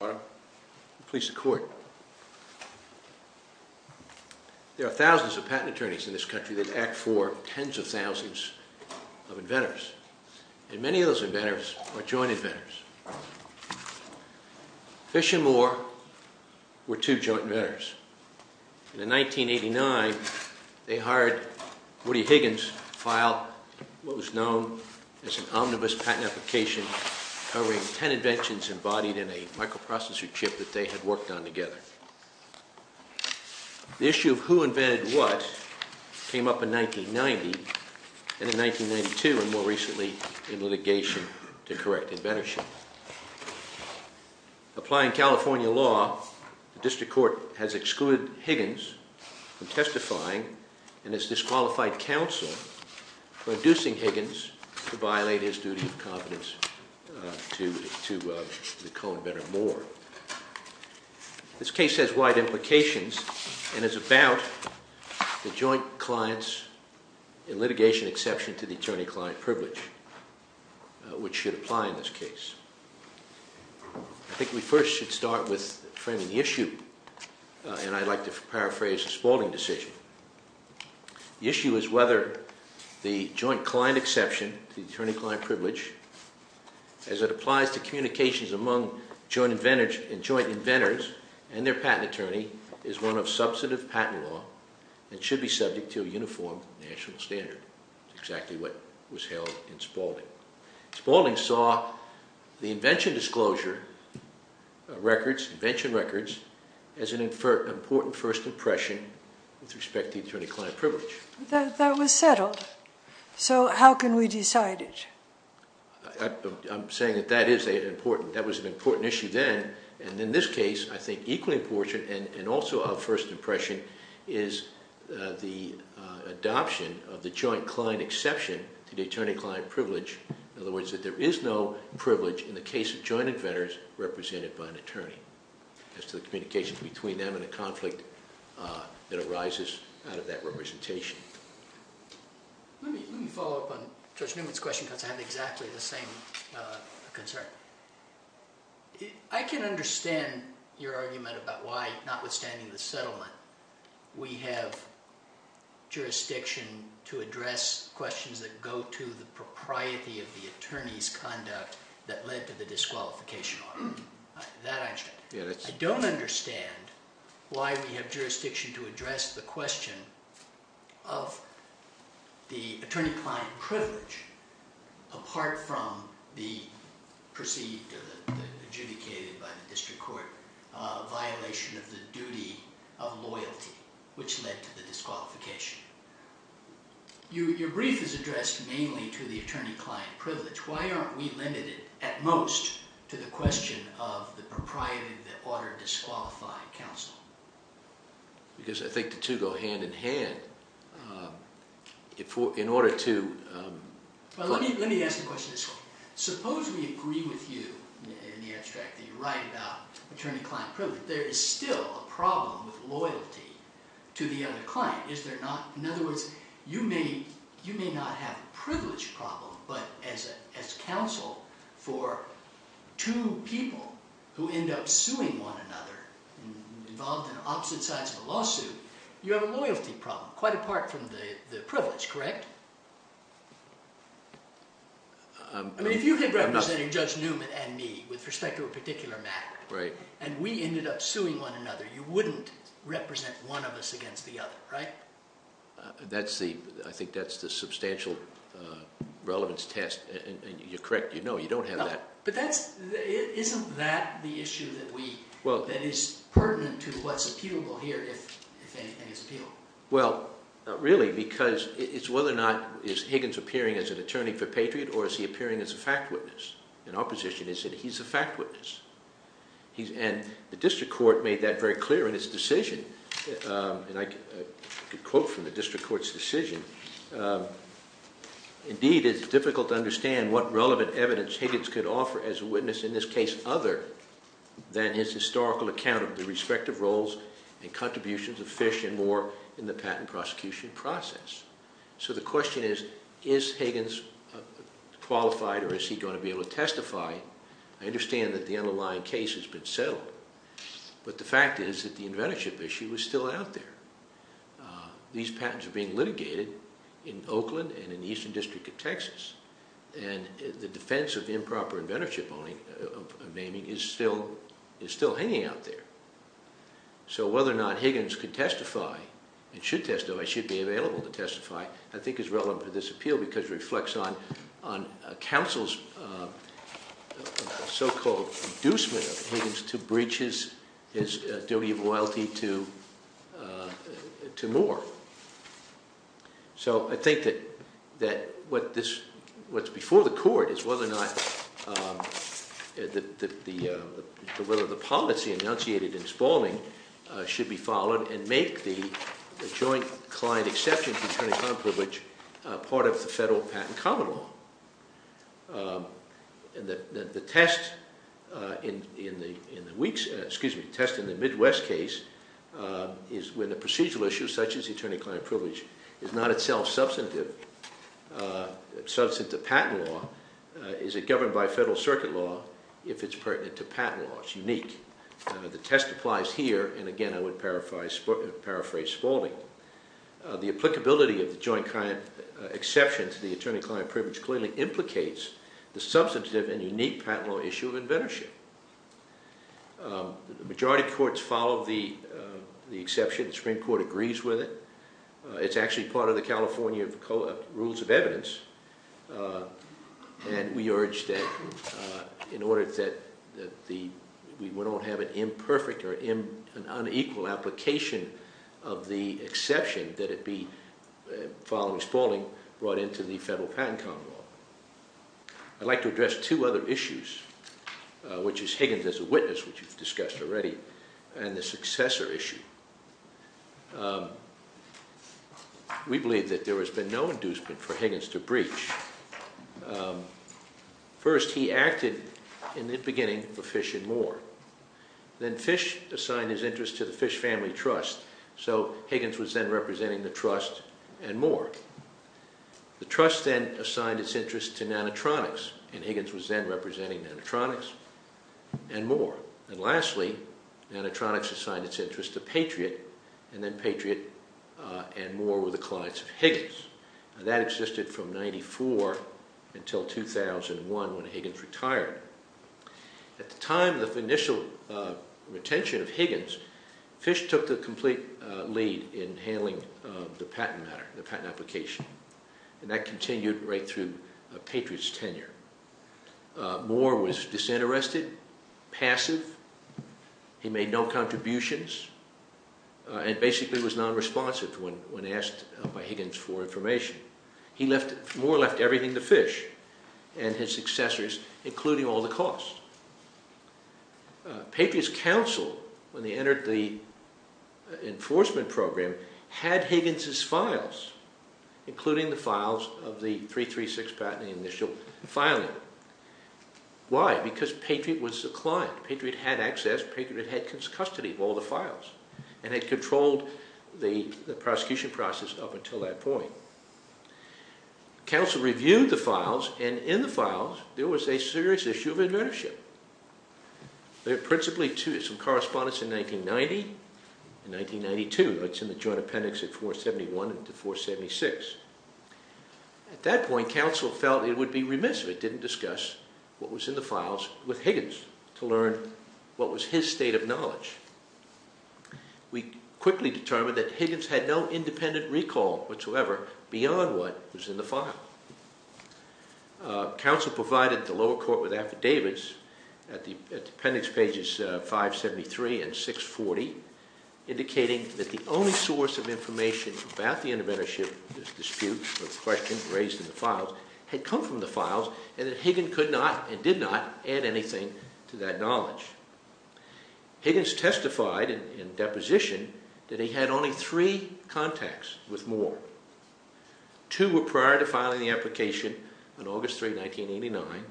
There are thousands of patent attorneys in this country that act for tens of thousands of inventors, and many of those inventors are joint inventors. Fish and Moore were two joint inventors. In 1989, they hired Woody Higgins to file what was known as an omnibus patent application covering ten inventions embodied in a microprocessor chip that they had worked on together. The issue of who invented what came up in 1990 and in 1992 and more recently in litigation to correct inventorship. Applying California law, the district court has excluded Higgins from testifying, and it's disqualified counsel for inducing Higgins to violate his duty of competence to the co-inventor Moore. This case has wide implications and is about the joint client's litigation exception to the attorney-client privilege, which should apply in this case. I think we first should start with framing the issue, and I'd like to paraphrase the Spalding decision. The issue is whether the joint client exception to the attorney-client privilege, as it applies to communications among joint inventors and their patent attorney, is one of substantive patent law and should be subject to a uniform national standard. That's exactly what was held in Spalding. Spalding saw the invention disclosure records, invention records, as an important first impression with respect to attorney-client privilege. That was settled. So how can we decide it? I'm saying that that is an important, that was an important issue then, and in this case I think equally important and also of first impression is the adoption of the joint client exception to the attorney-client privilege. In other words, that there is no privilege in the case of joint inventors represented by an attorney as to the communications between them and the conflict that arises out of that representation. Let me follow up on Judge Newman's question because I have exactly the same concern. I can understand your argument about why, notwithstanding the propriety of the attorney's conduct that led to the disqualification. I don't understand why we have jurisdiction to address the question of the attorney-client privilege apart from the perceived, adjudicated by the district court, violation of the duty of loyalty, which led to the disqualification. Your brief is addressed mainly to the attorney-client privilege. Why aren't we limited, at most, to the question of the propriety of the order disqualifying counsel? Because I think the two go hand-in-hand. In order to... Well, let me ask the question this way. Suppose we agree with you in the abstract that you write about attorney-client privilege. There is still a problem with loyalty to the other client, is there not? In other words, you may not have a privilege problem, but as counsel for two people who end up suing one another involved in opposite sides of a lawsuit, you have a loyalty problem quite apart from the privilege, correct? I mean, if you could represent Judge Newman and me with respect to a particular matter, and we ended up suing one another, you wouldn't represent one of us against the other, right? I think that's the substantial relevance test, and you're correct. You know you don't have that. But isn't that the issue that is pertinent to what's appealable here, if anything is appealable? Well, really, because it's whether or not is Higgins appearing as an attorney for Patriot or is he appearing as a fact witness in our position is that he's a fact witness. And the district court made that very clear in its decision, and I could quote from the district court's decision. Indeed, it's difficult to understand what relevant evidence Higgins could offer as a witness in this case other than his historical account of the respective roles and contributions of Fish and Moore in the patent prosecution process. So the question is, is Higgins qualified or is he going to be able to testify? I understand that the underlying case has been settled, but the fact is that the inventorship issue is still out there. These patents are being litigated in Oakland and in the Eastern District of Texas, and the defense of improper inventorship naming is still hanging out there. So whether or not Higgins could testify and should testify, should be available to testify, I think is relevant for this appeal because it reflects on counsel's so-called inducement of Higgins to breach his duty of loyalty to Moore. So I think that what's before the court is whether or not the policy enunciated in Spalding should be followed and make the joint client exception to attorney patent common law. The test in the Midwest case is when the procedural issue, such as attorney-client privilege, is not itself substantive to patent law, is it governed by federal circuit law if it's pertinent to patent law? It's unique. The test applies here, and again I would paraphrase Spalding. The applicability of the joint client exception to the attorney-client privilege clearly implicates the substantive and unique patent law issue of inventorship. Majority courts follow the exception. The Supreme Court agrees with it. It's actually part of the California Rules of Evidence, and we urge that in order that we don't have an imperfect or an unequal application of the exception that it be, following Spalding, brought into the federal patent common law. I'd like to address two other issues, which is Higgins as a witness, which you've discussed already, and the successor issue. We believe that there has been no inducement for Higgins to breach. First, he acted in the beginning for Fish and Moore. Then Fish assigned his interest to the Fish Family Trust, so Higgins was then representing the Trust and Moore. The Trust then assigned its interest to Nanotronics, and Higgins was then representing Nanotronics and Moore. And lastly, Nanotronics assigned its interest to Patriot, and then Patriot and Moore were the clients of Higgins. That existed from 94 until 2001 when Higgins retired. At the time of the initial retention of Higgins, Fish took the complete lead in handling the patent matter, the patent application, and that continued right through Patriot's tenure. Moore was disinterested, passive. He made no contributions and basically was non-responsive when asked by Higgins for information. Moore left everything to Fish and his successors, including all the costs. Patriot's counsel, when they entered the enforcement program, had Higgins' files, including the files of the 336 patent initial filing. Why? Because Patriot was the client. Patriot had access. Patriot had custody of all the files and had controlled the prosecution process up until that point. Counsel reviewed the files, and in the files, there was a serious issue of advertisement. There were principally two, some correspondence in 1990 and 1992, that's in the joint appendix at 471 and 476. At that point, counsel felt it would be remiss if didn't discuss what was in the files with Higgins to learn what was his state of knowledge. We quickly determined that Higgins had no independent recall whatsoever beyond what was in the file. Counsel provided the lower court with affidavits at the appendix pages 573 and 640, indicating that the only source of information about the interventorship dispute or the question raised in the files had come from the files and that Higgins could not and did not add anything to that knowledge. Higgins testified in deposition that he had only three contacts with Moore. Two were prior to filing the application on August 3, 1989,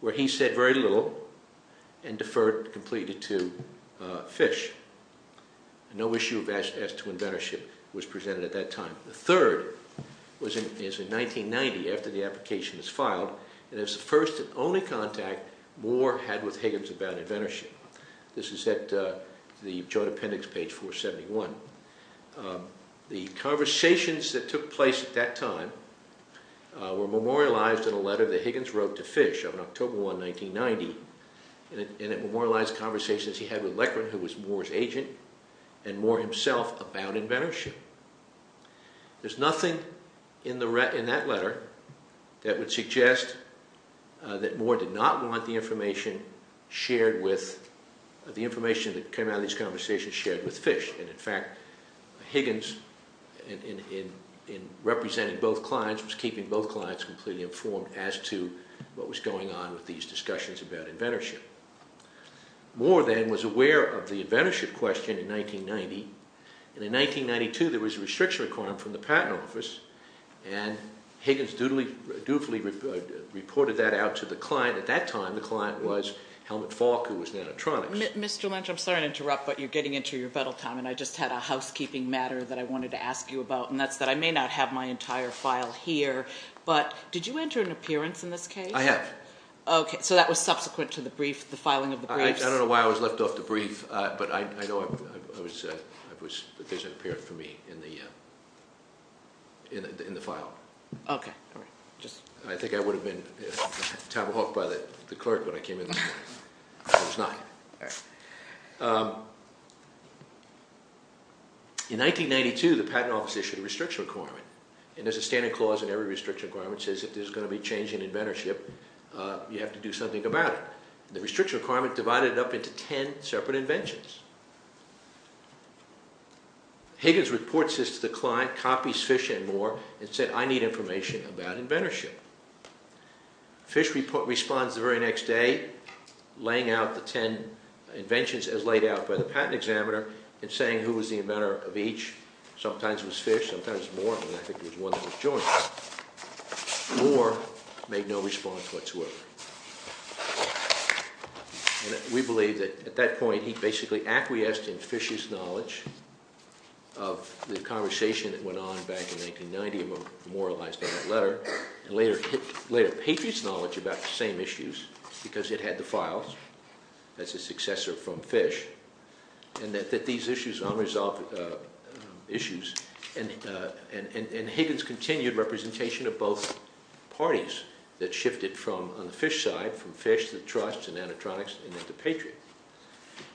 where he said very little and deferred completely to Fish. No issue as to interventorship was presented at that time. The third was in 1990, after the application was filed, and it was the first and only contact Moore had with Higgins about interventorship. This is at the joint appendix page 471. The conversations that took place at that time were memorialized in a letter that Higgins wrote to Fish on October 1, 1990, and it memorialized conversations he had with Leckron, who was Moore's client, about interventorship. There's nothing in that letter that would suggest that Moore did not want the information shared with, the information that came out of these conversations shared with Fish, and in fact Higgins, in representing both clients, was keeping both clients completely informed as to what was going on with these discussions about interventorship. Moore then was aware of the fact that in 1992, there was a restriction requirement from the Patent Office, and Higgins dutifully reported that out to the client. At that time, the client was Helmut Falk, who was in Anatronics. Mr. Lynch, I'm sorry to interrupt, but you're getting into your battle time, and I just had a housekeeping matter that I wanted to ask you about, and that's that I may not have my entire file here, but did you enter an appearance in this case? I have. Okay, so that was subsequent to the brief, the filing of the briefs? I don't know why I was left off the brief, but I know I was, there's an appearance for me in the file. Okay, all right, just... I think I would have been tomahawked by the clerk when I came in this morning. I was not. All right. In 1992, the Patent Office issued a restriction requirement, and there's a standard clause in every restriction requirement that says if there's going to be change in interventorship, you have to do something about it. The restriction requirement divided it up into ten separate inventions. Higgins reports this to the client, copies Fish and Moore, and said, I need information about interventorship. Fish responds the very next day, laying out the ten inventions as laid out by the patent examiner, and saying who was the inventor of each, sometimes it was Fish, sometimes it was Moore, and I think it was one that was Jonas. Moore made no response whatsoever. We believe that at that point, he basically acquiesced in Fish's knowledge of the conversation that went on back in 1990, and later Patriot's knowledge about the same issues, because it had the files as a successor from Fish. And that these issues, unresolved issues, and Higgins continued representation of both parties that shifted from on the Fish side, from Fish to the Trust and then to Patriot.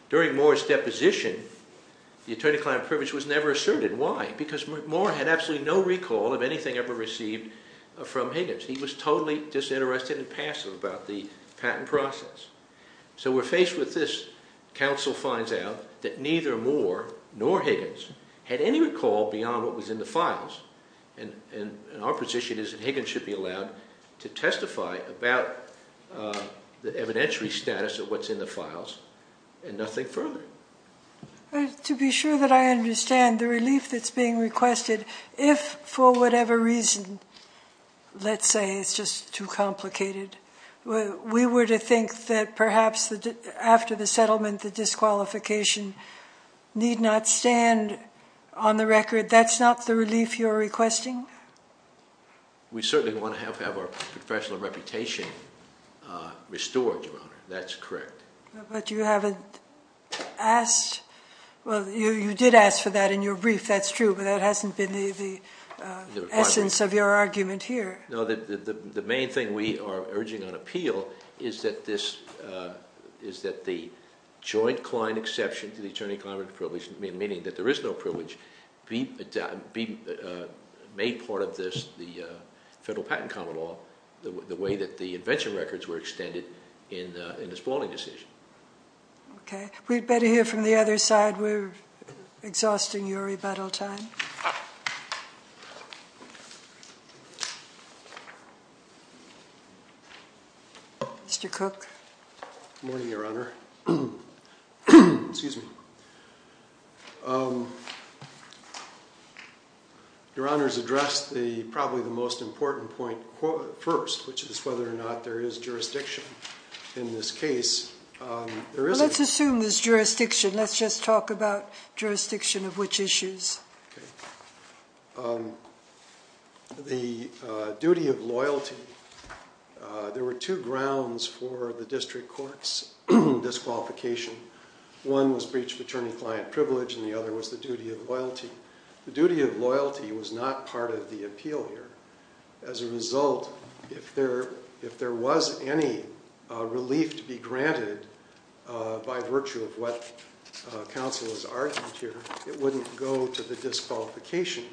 During Moore's deposition, the attorney-client privilege was never asserted, why? Because Moore had absolutely no recall of anything ever received from Higgins. He was totally disinterested and passive about the patent process. So we're faced with this, counsel finds out that neither Moore nor Higgins had any recall beyond what was in the files, and our position is that Higgins should be allowed to testify about the evidentiary status of what's in the files, and nothing further. To be sure that I understand, the relief that's being requested, if for whatever reason, let's say it's just too complicated, we were to think that perhaps after the settlement, the disqualification need not stand on the record, that's not the relief you're requesting? We certainly want to have our professional reputation restored, Your Honor. That's correct. But you haven't asked, well, you did ask for that in your brief, that's true, but that hasn't been the essence of your argument here. No, the main thing we are urging on appeal is that the joint-client exception to the attorney-client privilege, meaning that there is no privilege, be made part of this, the Federal Patent Common Law, the way that the invention records were extended in the Spalding decision. Okay, we'd better hear from the other side, we're exhausting your rebuttal time. Mr. Cook. Good morning, Your Honor. Excuse me. Your Honor's addressed probably the most important point first, which is whether or not there is jurisdiction in this case. Well, let's assume there's jurisdiction, let's just talk about jurisdiction of which issues. The duty of loyalty, there were two grounds for the district court's disqualification. One was breach of attorney-client privilege and the other was the duty of loyalty. The duty of loyalty was not part of the appeal here. As a result, if there was any relief to be granted by virtue of what counsel has argued here, it wouldn't go to the disqualification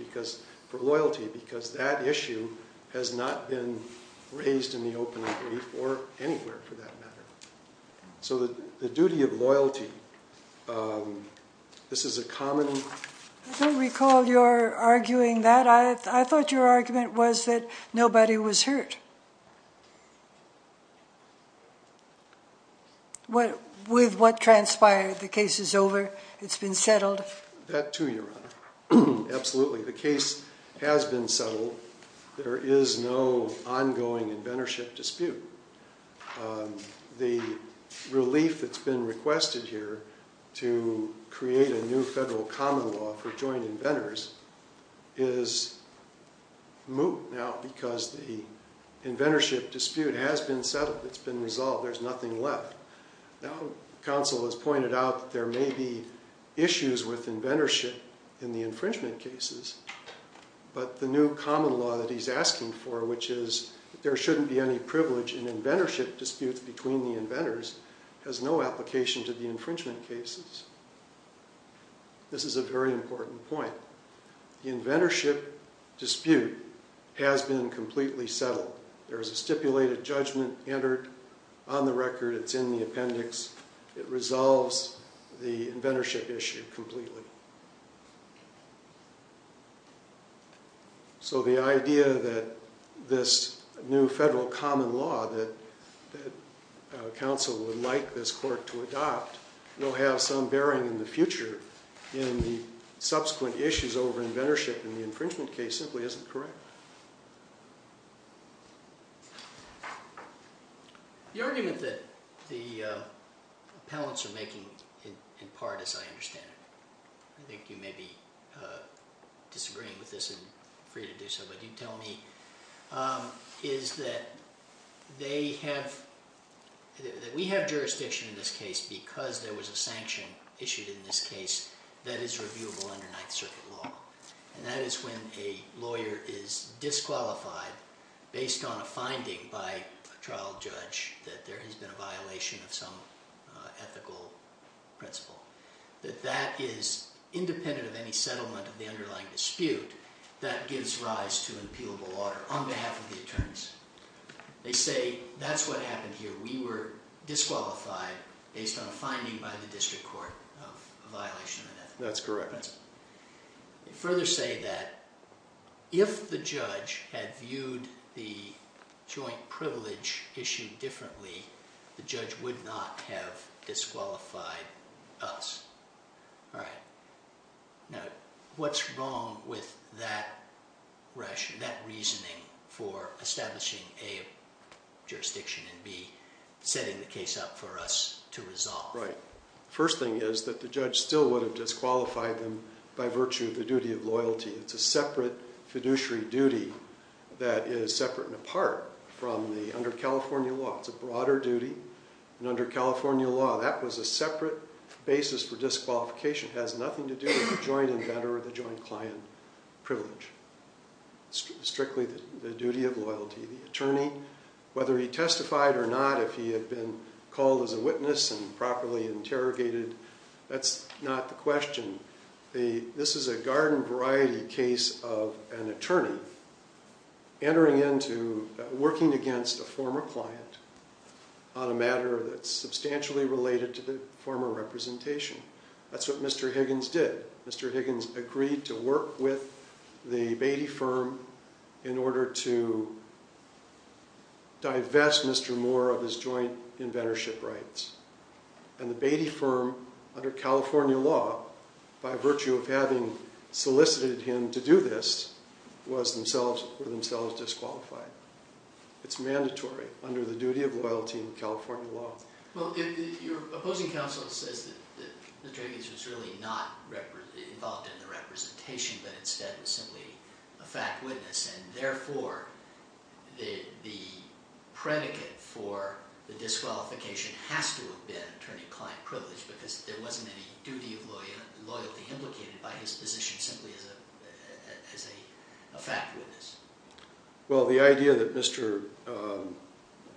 for loyalty because that issue has not been raised in the opening brief or anywhere for that matter. So the duty of loyalty, this is a common... I don't recall your arguing that. I thought your argument was that nobody was hurt. With what transpired, the case is over, it's been settled? That too, Your Honor. Absolutely, the case has been settled. There is no ongoing inventorship dispute. The relief that's been requested here to create a new federal common law for joint inventors is moot now because the inventorship dispute has been settled, it's been resolved, there's nothing left. Now, counsel has pointed out that there may be issues with inventorship in the infringement cases, but the new common law that he's asking for, which is there shouldn't be any privilege in inventorship disputes between the inventors, has no application to the infringement cases. This is a very important point. The inventorship dispute has been completely settled. There's a stipulated judgment entered on the record, it's in the appendix, it resolves the inventorship issue completely. So the idea that this new federal common law that counsel would like this court to adopt will have some bearing in the future in the subsequent issues over inventorship in the infringement case simply isn't correct. The argument that the appellants are making, in part as I understand it, I think you may be disagreeing with this and free to do so, but you tell me, is that we have jurisdiction in this case because there was a sanction issued in this case that is reviewable under Ninth Circuit law. And that is when a lawyer is disqualified based on a finding by a trial judge that there has been a violation of some ethical principle. That that is independent of any settlement of the underlying dispute, that gives rise to an appealable order on behalf of the attorneys. They say, that's what happened here, we were disqualified based on a finding by the district court of a violation of an ethical principle. That's correct. You further say that if the judge had viewed the joint privilege issue differently, the judge would not have disqualified us. All right. Now, what's wrong with that reasoning for establishing a jurisdiction and b, setting the case up for us to resolve? Right. First thing is that the judge still would have disqualified them by virtue of the duty of loyalty. It's a separate fiduciary duty that is separate and apart from the under California law. It's a broader duty, and under California law, that was a separate basis for disqualification. It has nothing to do with the joint inventor or the joint client privilege. Strictly the duty of loyalty. The attorney, whether he testified or not, if he had been called as a witness and properly interrogated, that's not the question. This is a garden variety case of an attorney entering into, working against a former client on a matter that's substantially related to the former representation. That's what Mr. Higgins did. Mr. Higgins agreed to work with the Beatty firm in order to divest Mr. Moore of his joint inventorship rights. And the Beatty firm, under California law, by virtue of having solicited him to do this, were themselves disqualified. It's mandatory under the duty of loyalty in California law. Your opposing counsel says that Mr. Higgins was really not involved in the representation, but instead was simply a fact witness. And therefore, the predicate for the disqualification has to have been attorney-client privilege, because there wasn't any duty of loyalty implicated by his position simply as a fact witness. Well, the idea that Mr.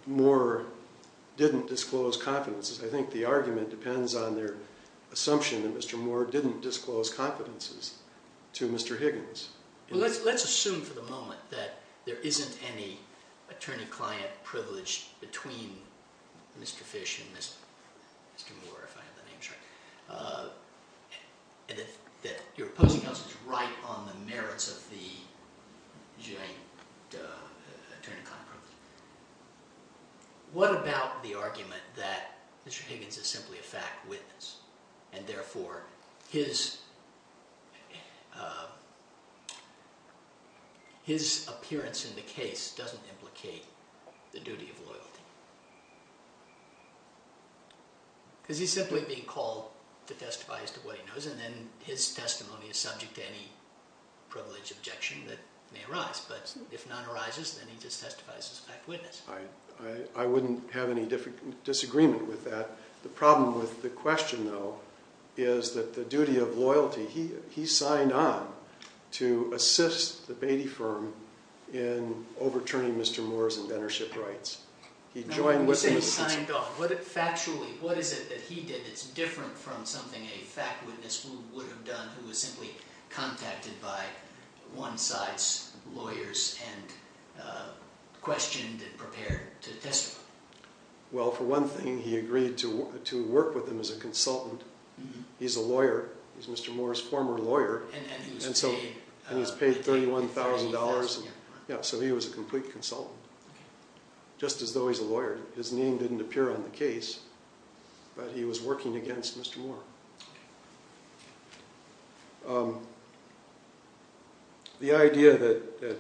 Moore didn't disclose confidences, I think the argument depends on their assumption that Mr. Moore didn't disclose confidences to Mr. Higgins. Let's assume for the moment that there isn't any attorney-client privilege between Mr. Fish and Mr. Moore, if I have the name right. And that your opposing counsel is right on the merits of the joint attorney-client privilege. What about the argument that Mr. Higgins is simply a fact witness, and therefore his appearance in the case doesn't implicate the duty of loyalty? Because he's simply being called to testify as to what he knows, and then his testimony is subject to any privilege objection that may arise. But if none arises, then he just testifies as a fact witness. I wouldn't have any disagreement with that. The problem with the question, though, is that the duty of loyalty, he signed on to assist the Beatty firm in overturning Mr. Moore's inventorship rights. What is it that he did that's different from something a fact witness would have done, who was simply contacted by one side's lawyers and questioned and prepared to testify? Well, for one thing, he agreed to work with him as a consultant. He's a lawyer. He's Mr. Moore's former lawyer. And he was paid $31,000. So he was a complete consultant, just as though he's a lawyer. His name didn't appear on the case, but he was working against Mr. Moore. The idea that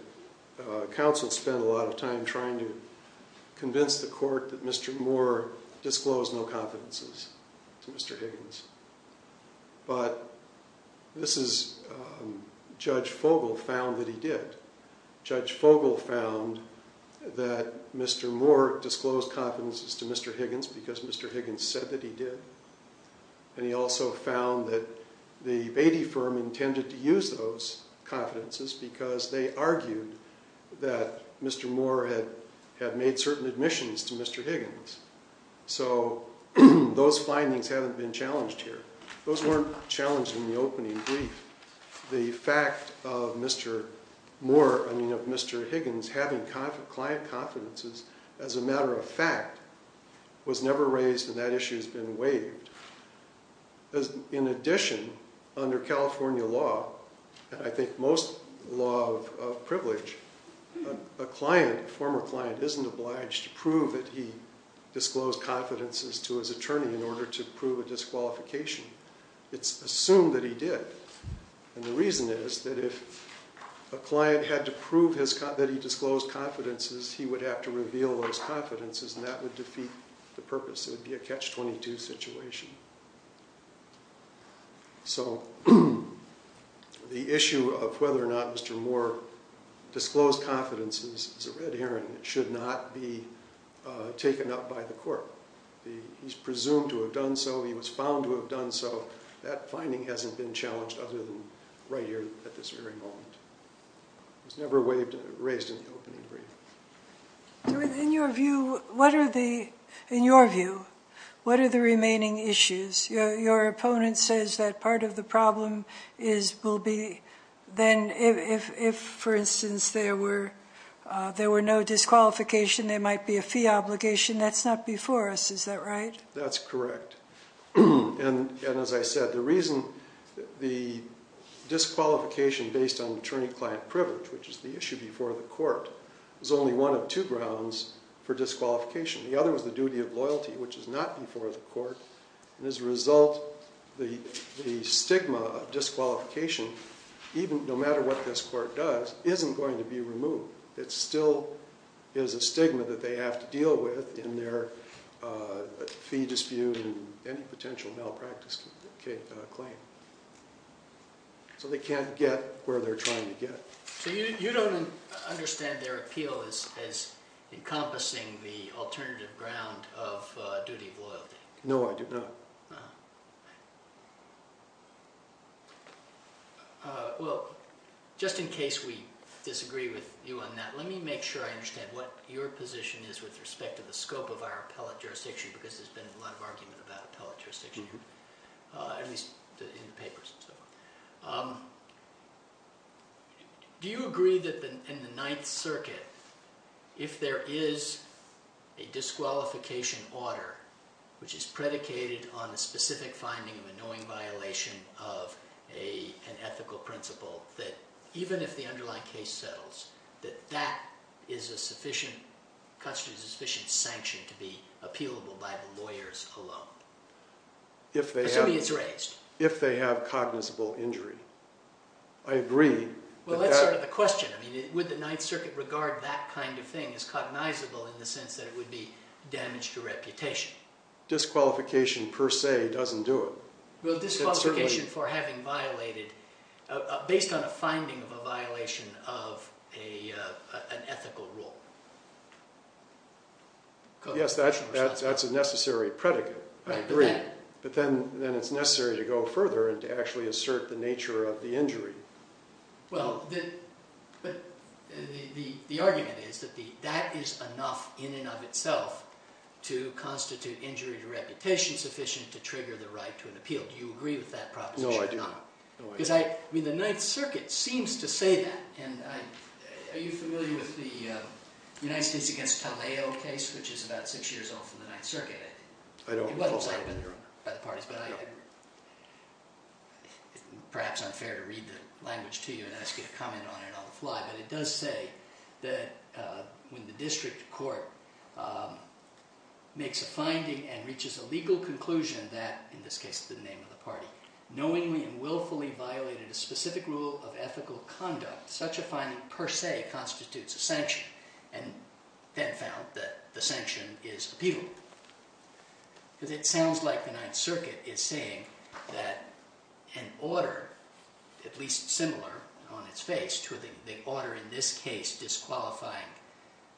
counsel spent a lot of time trying to convince the court that Mr. Moore disclosed no confidences to Mr. Higgins. But Judge Fogel found that he did. Judge Fogel found that Mr. Moore disclosed confidences to Mr. Higgins because Mr. Higgins said that he did. And he also found that the Beatty firm intended to use those confidences because they argued that Mr. Moore had made certain admissions to Mr. Higgins. So those findings haven't been challenged here. Those weren't challenged in the opening brief. The fact of Mr. Higgins having client confidences as a matter of fact was never raised and that issue has been waived. In addition, under California law, and I think most law of privilege, a former client isn't obliged to prove that he disclosed confidences to his attorney in order to prove a disqualification. It's assumed that he did. And the reason is that if a client had to prove that he disclosed confidences, he would have to reveal those confidences and that would defeat the purpose. It would be a catch-22 situation. So the issue of whether or not Mr. Moore disclosed confidences is a red herring. It should not be taken up by the court. He's presumed to have done so. He was found to have done so. That finding hasn't been challenged other than right here at this very moment. It was never raised in the opening brief. In your view, what are the remaining issues? Your opponent says that part of the problem will be then if, for instance, there were no disqualification, there might be a fee obligation. That's not before us, is that right? That's correct. And as I said, the reason the disqualification based on attorney-client privilege, which is the issue before the court, is only one of two grounds for disqualification. The other is the duty of loyalty, which is not before the court. And as a result, the stigma of disqualification, no matter what this court does, isn't going to be removed. It still is a stigma that they have to deal with in their fee dispute and any potential malpractice claim. So they can't get where they're trying to get. So you don't understand their appeal as encompassing the alternative ground of duty of loyalty? No, I do not. Well, just in case we disagree with you on that, let me make sure I understand what your position is with respect to the scope of our appellate jurisdiction, because there's been a lot of argument about appellate jurisdiction, at least in the papers and so forth. Do you agree that in the Ninth Circuit, if there is a disqualification order, which is predicated on the specific finding of a knowing violation of an ethical principle, that even if the underlying case settles, that that constitutes a sufficient sanction to be appealable by the lawyers alone? Assuming it's raised. If they have cognizable injury. I agree. Well, that's sort of the question. I mean, would the Ninth Circuit regard that kind of thing as cognizable in the sense that it would be damage to reputation? Disqualification per se doesn't do it. Well, disqualification for having violated, based on a finding of a violation of an ethical rule. Yes, that's a necessary predicate. I agree. But then it's necessary to go further and to actually assert the nature of the injury. Well, the argument is that that is enough in and of itself to constitute injury to reputation sufficient to trigger the right to an appeal. Do you agree with that proposition or not? No, I do not. The Ninth Circuit seems to say that. Are you familiar with the United States against Taleo case, which is about six years old from the Ninth Circuit? I don't. Perhaps it's unfair to read the language to you and ask you to comment on it on the fly. But it does say that when the district court makes a finding and reaches a legal conclusion that, in this case, the name of the party, knowingly and willfully violated a specific rule of ethical conduct, such a finding per se constitutes a sanction. And then found that the sanction is appealable. Because it sounds like the Ninth Circuit is saying that an order, at least similar on its face, to the order in this case disqualifying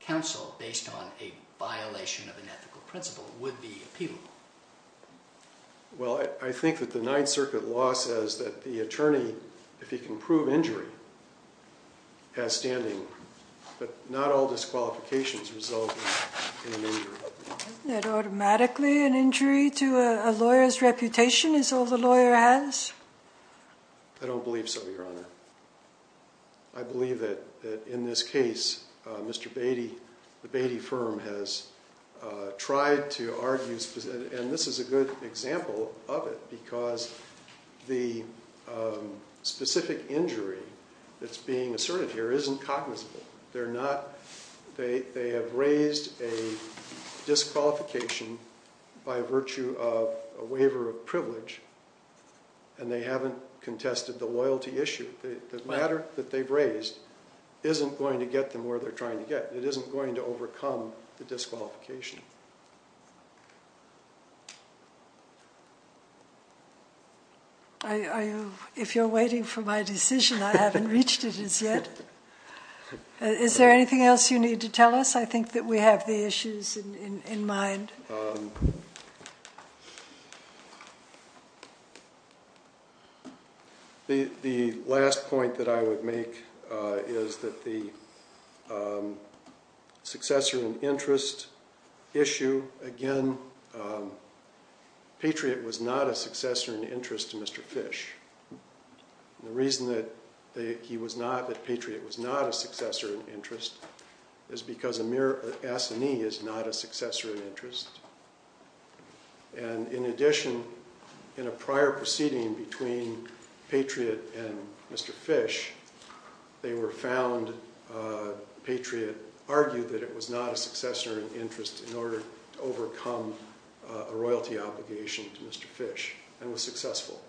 counsel based on a violation of an ethical principle would be appealable. Well, I think that the Ninth Circuit law says that the attorney, if he can prove injury, has standing. But not all disqualifications result in an injury. Isn't that automatically an injury to a lawyer's reputation is all the lawyer has? I don't believe so, Your Honor. I believe that in this case, Mr. Beatty, the Beatty firm has tried to argue, and this is a good example of it, because the specific injury that's being asserted here isn't cognizable. They have raised a disqualification by virtue of a waiver of privilege, and they haven't contested the loyalty issue. The matter that they've raised isn't going to get them where they're trying to get. It isn't going to overcome the disqualification. If you're waiting for my decision, I haven't reached it as yet. Is there anything else you need to tell us? I think that we have the issues in mind. The last point that I would make is that the successor in interest issue, again, Patriot was not a successor in interest to Mr. Fish. The reason that he was not, that Patriot was not a successor in interest is because Amir Assani is not a successor in interest. In addition, in a prior proceeding between Patriot and Mr. Fish, they were found, Patriot argued that it was not a successor in interest in order to overcome a royalty obligation to Mr. Fish, and was successful.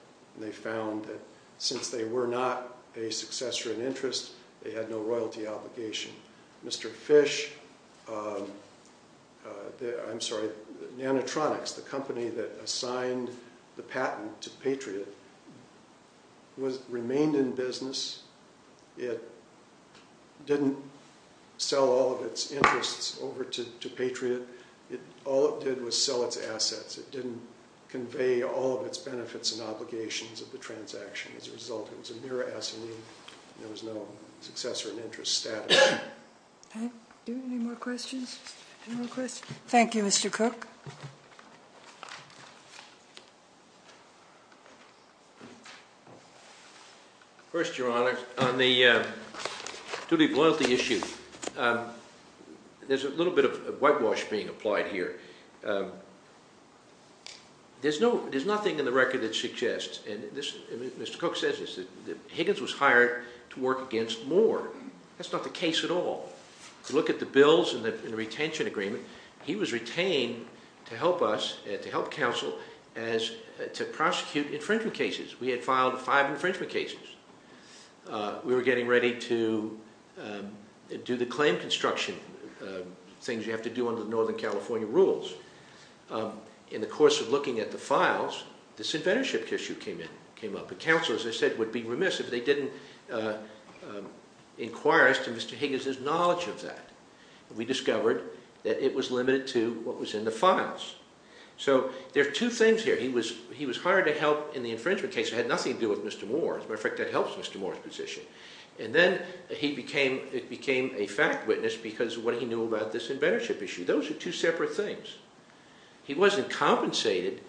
They found that since they were not a successor in interest, they had no royalty obligation. Mr. Fish, I'm sorry, Nanotronics, the company that assigned the patent to Patriot, remained in business. It didn't sell all of its interests over to Patriot. All it did was sell its assets. It didn't convey all of its benefits and obligations of the transaction. As a result, it was Amir Assani. There was no successor in interest status. Do we have any more questions? Thank you, Mr. Cook. First, Your Honor, on the duty of loyalty issue, there's a little bit of whitewash being applied here. There's nothing in the record that suggests, and Mr. Cook says this, that Higgins was hired to work against Moore. That's not the case at all. Look at the bills and the retention agreement. He was retained to help us, to help counsel, to prosecute infringement cases. We had filed five infringement cases. We were getting ready to do the claim construction, things you have to do under the Northern California rules. In the course of looking at the files, this inventorship issue came up. Counsel, as I said, would be remiss if they didn't inquire as to Mr. Higgins' knowledge of that. We discovered that it was limited to what was in the files. There are two things here. He was hired to help in the infringement case. It had nothing to do with Mr. Moore. As a matter of fact, that helps Mr. Moore's position. Then it became a fact witness because of what he knew about this inventorship issue. Those are two separate things. He wasn't compensated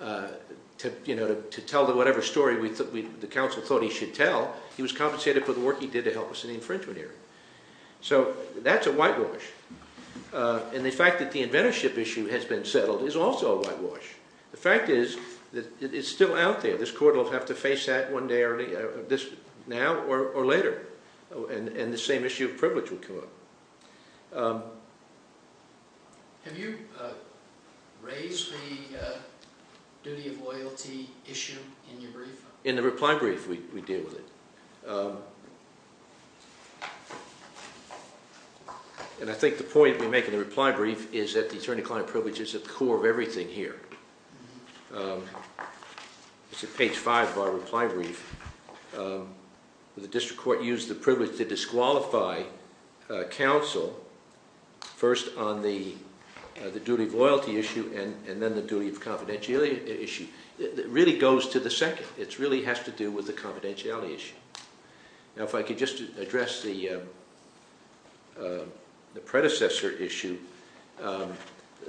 to tell whatever story the counsel thought he should tell. He was compensated for the work he did to help us in the infringement area. That's a whitewash. The fact that the inventorship issue has been settled is also a whitewash. The fact is that it's still out there. This court will have to face that now or later. The same issue of privilege will come up. Have you raised the duty of loyalty issue in your brief? In the reply brief, we deal with it. I think the point we make in the reply brief is that the attorney-client privilege is at the core of everything here. It's at page 5 of our reply brief. The district court used the privilege to disqualify counsel first on the duty of loyalty issue and then the duty of confidentiality issue. It really goes to the second. It really has to do with the confidentiality issue. If I could just address the predecessor issue,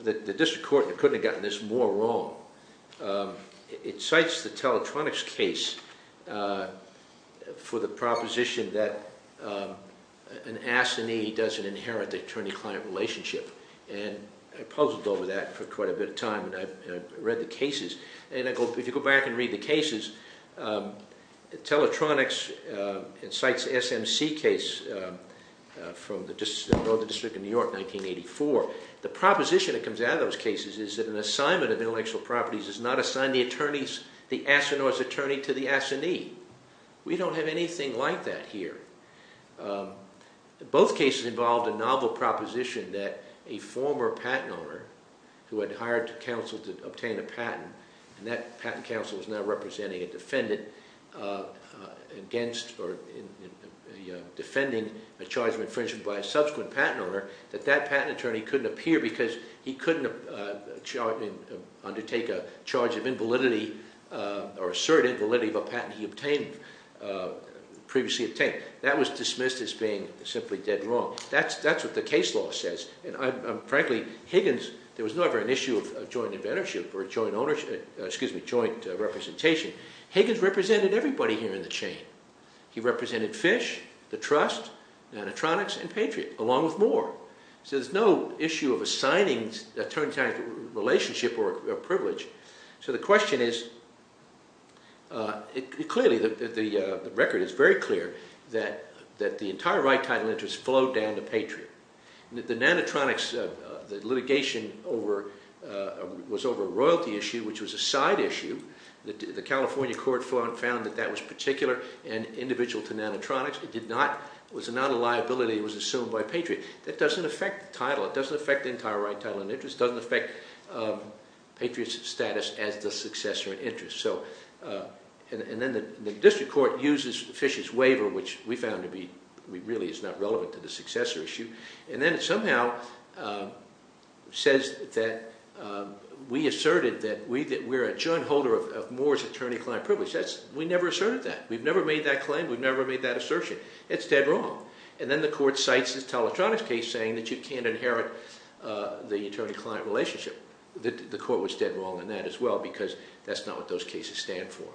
the district court couldn't have gotten this more wrong. It cites the teletronics case for the proposition that an assignee doesn't inherit the attorney-client relationship. I puzzled over that for quite a bit of time. I read the cases. If you go back and read the cases, the teletronics cites the SMC case from the District of New York, 1984. The proposition that comes out of those cases is that an assignment of intellectual properties is not assigned the attorney's, the astronaut's attorney to the assignee. We don't have anything like that here. Both cases involved a novel proposition that a former patent owner who had hired counsel to obtain a patent, and that patent counsel is now representing a defendant against or defending a charge of infringement by a subsequent patent owner, that that patent attorney couldn't appear because he couldn't undertake a charge of invalidity or assert invalidity of a patent he previously obtained. That was dismissed as being simply dead wrong. That's what the case law says. Frankly, Higgins, there was never an issue of joint representation. Higgins represented everybody here in the chain. He represented Fish, the Trust, Nanotronics, and Patriot, along with more. So there's no issue of assigning attorney-to-attorney relationship or privilege. So the question is, clearly, the record is very clear that the entire right title interest flowed down to Patriot. The Nanotronics litigation was over a royalty issue, which was a side issue. The California court found that that was particular and individual to Nanotronics. It was not a liability. It was assumed by Patriot. That doesn't affect the title. It doesn't affect the entire right title and interest. It doesn't affect Patriot's status as the successor in interest. And then the district court uses Fish's waiver, which we found really is not relevant to the successor issue. And then it somehow says that we asserted that we're a joint holder of Moore's attorney-client privilege. We never made that claim. We never made that assertion. It's dead wrong. And then the court cites the Teletronics case saying that you can't inherit the attorney-client relationship. The court was dead wrong in that as well, because that's not what those cases stand for.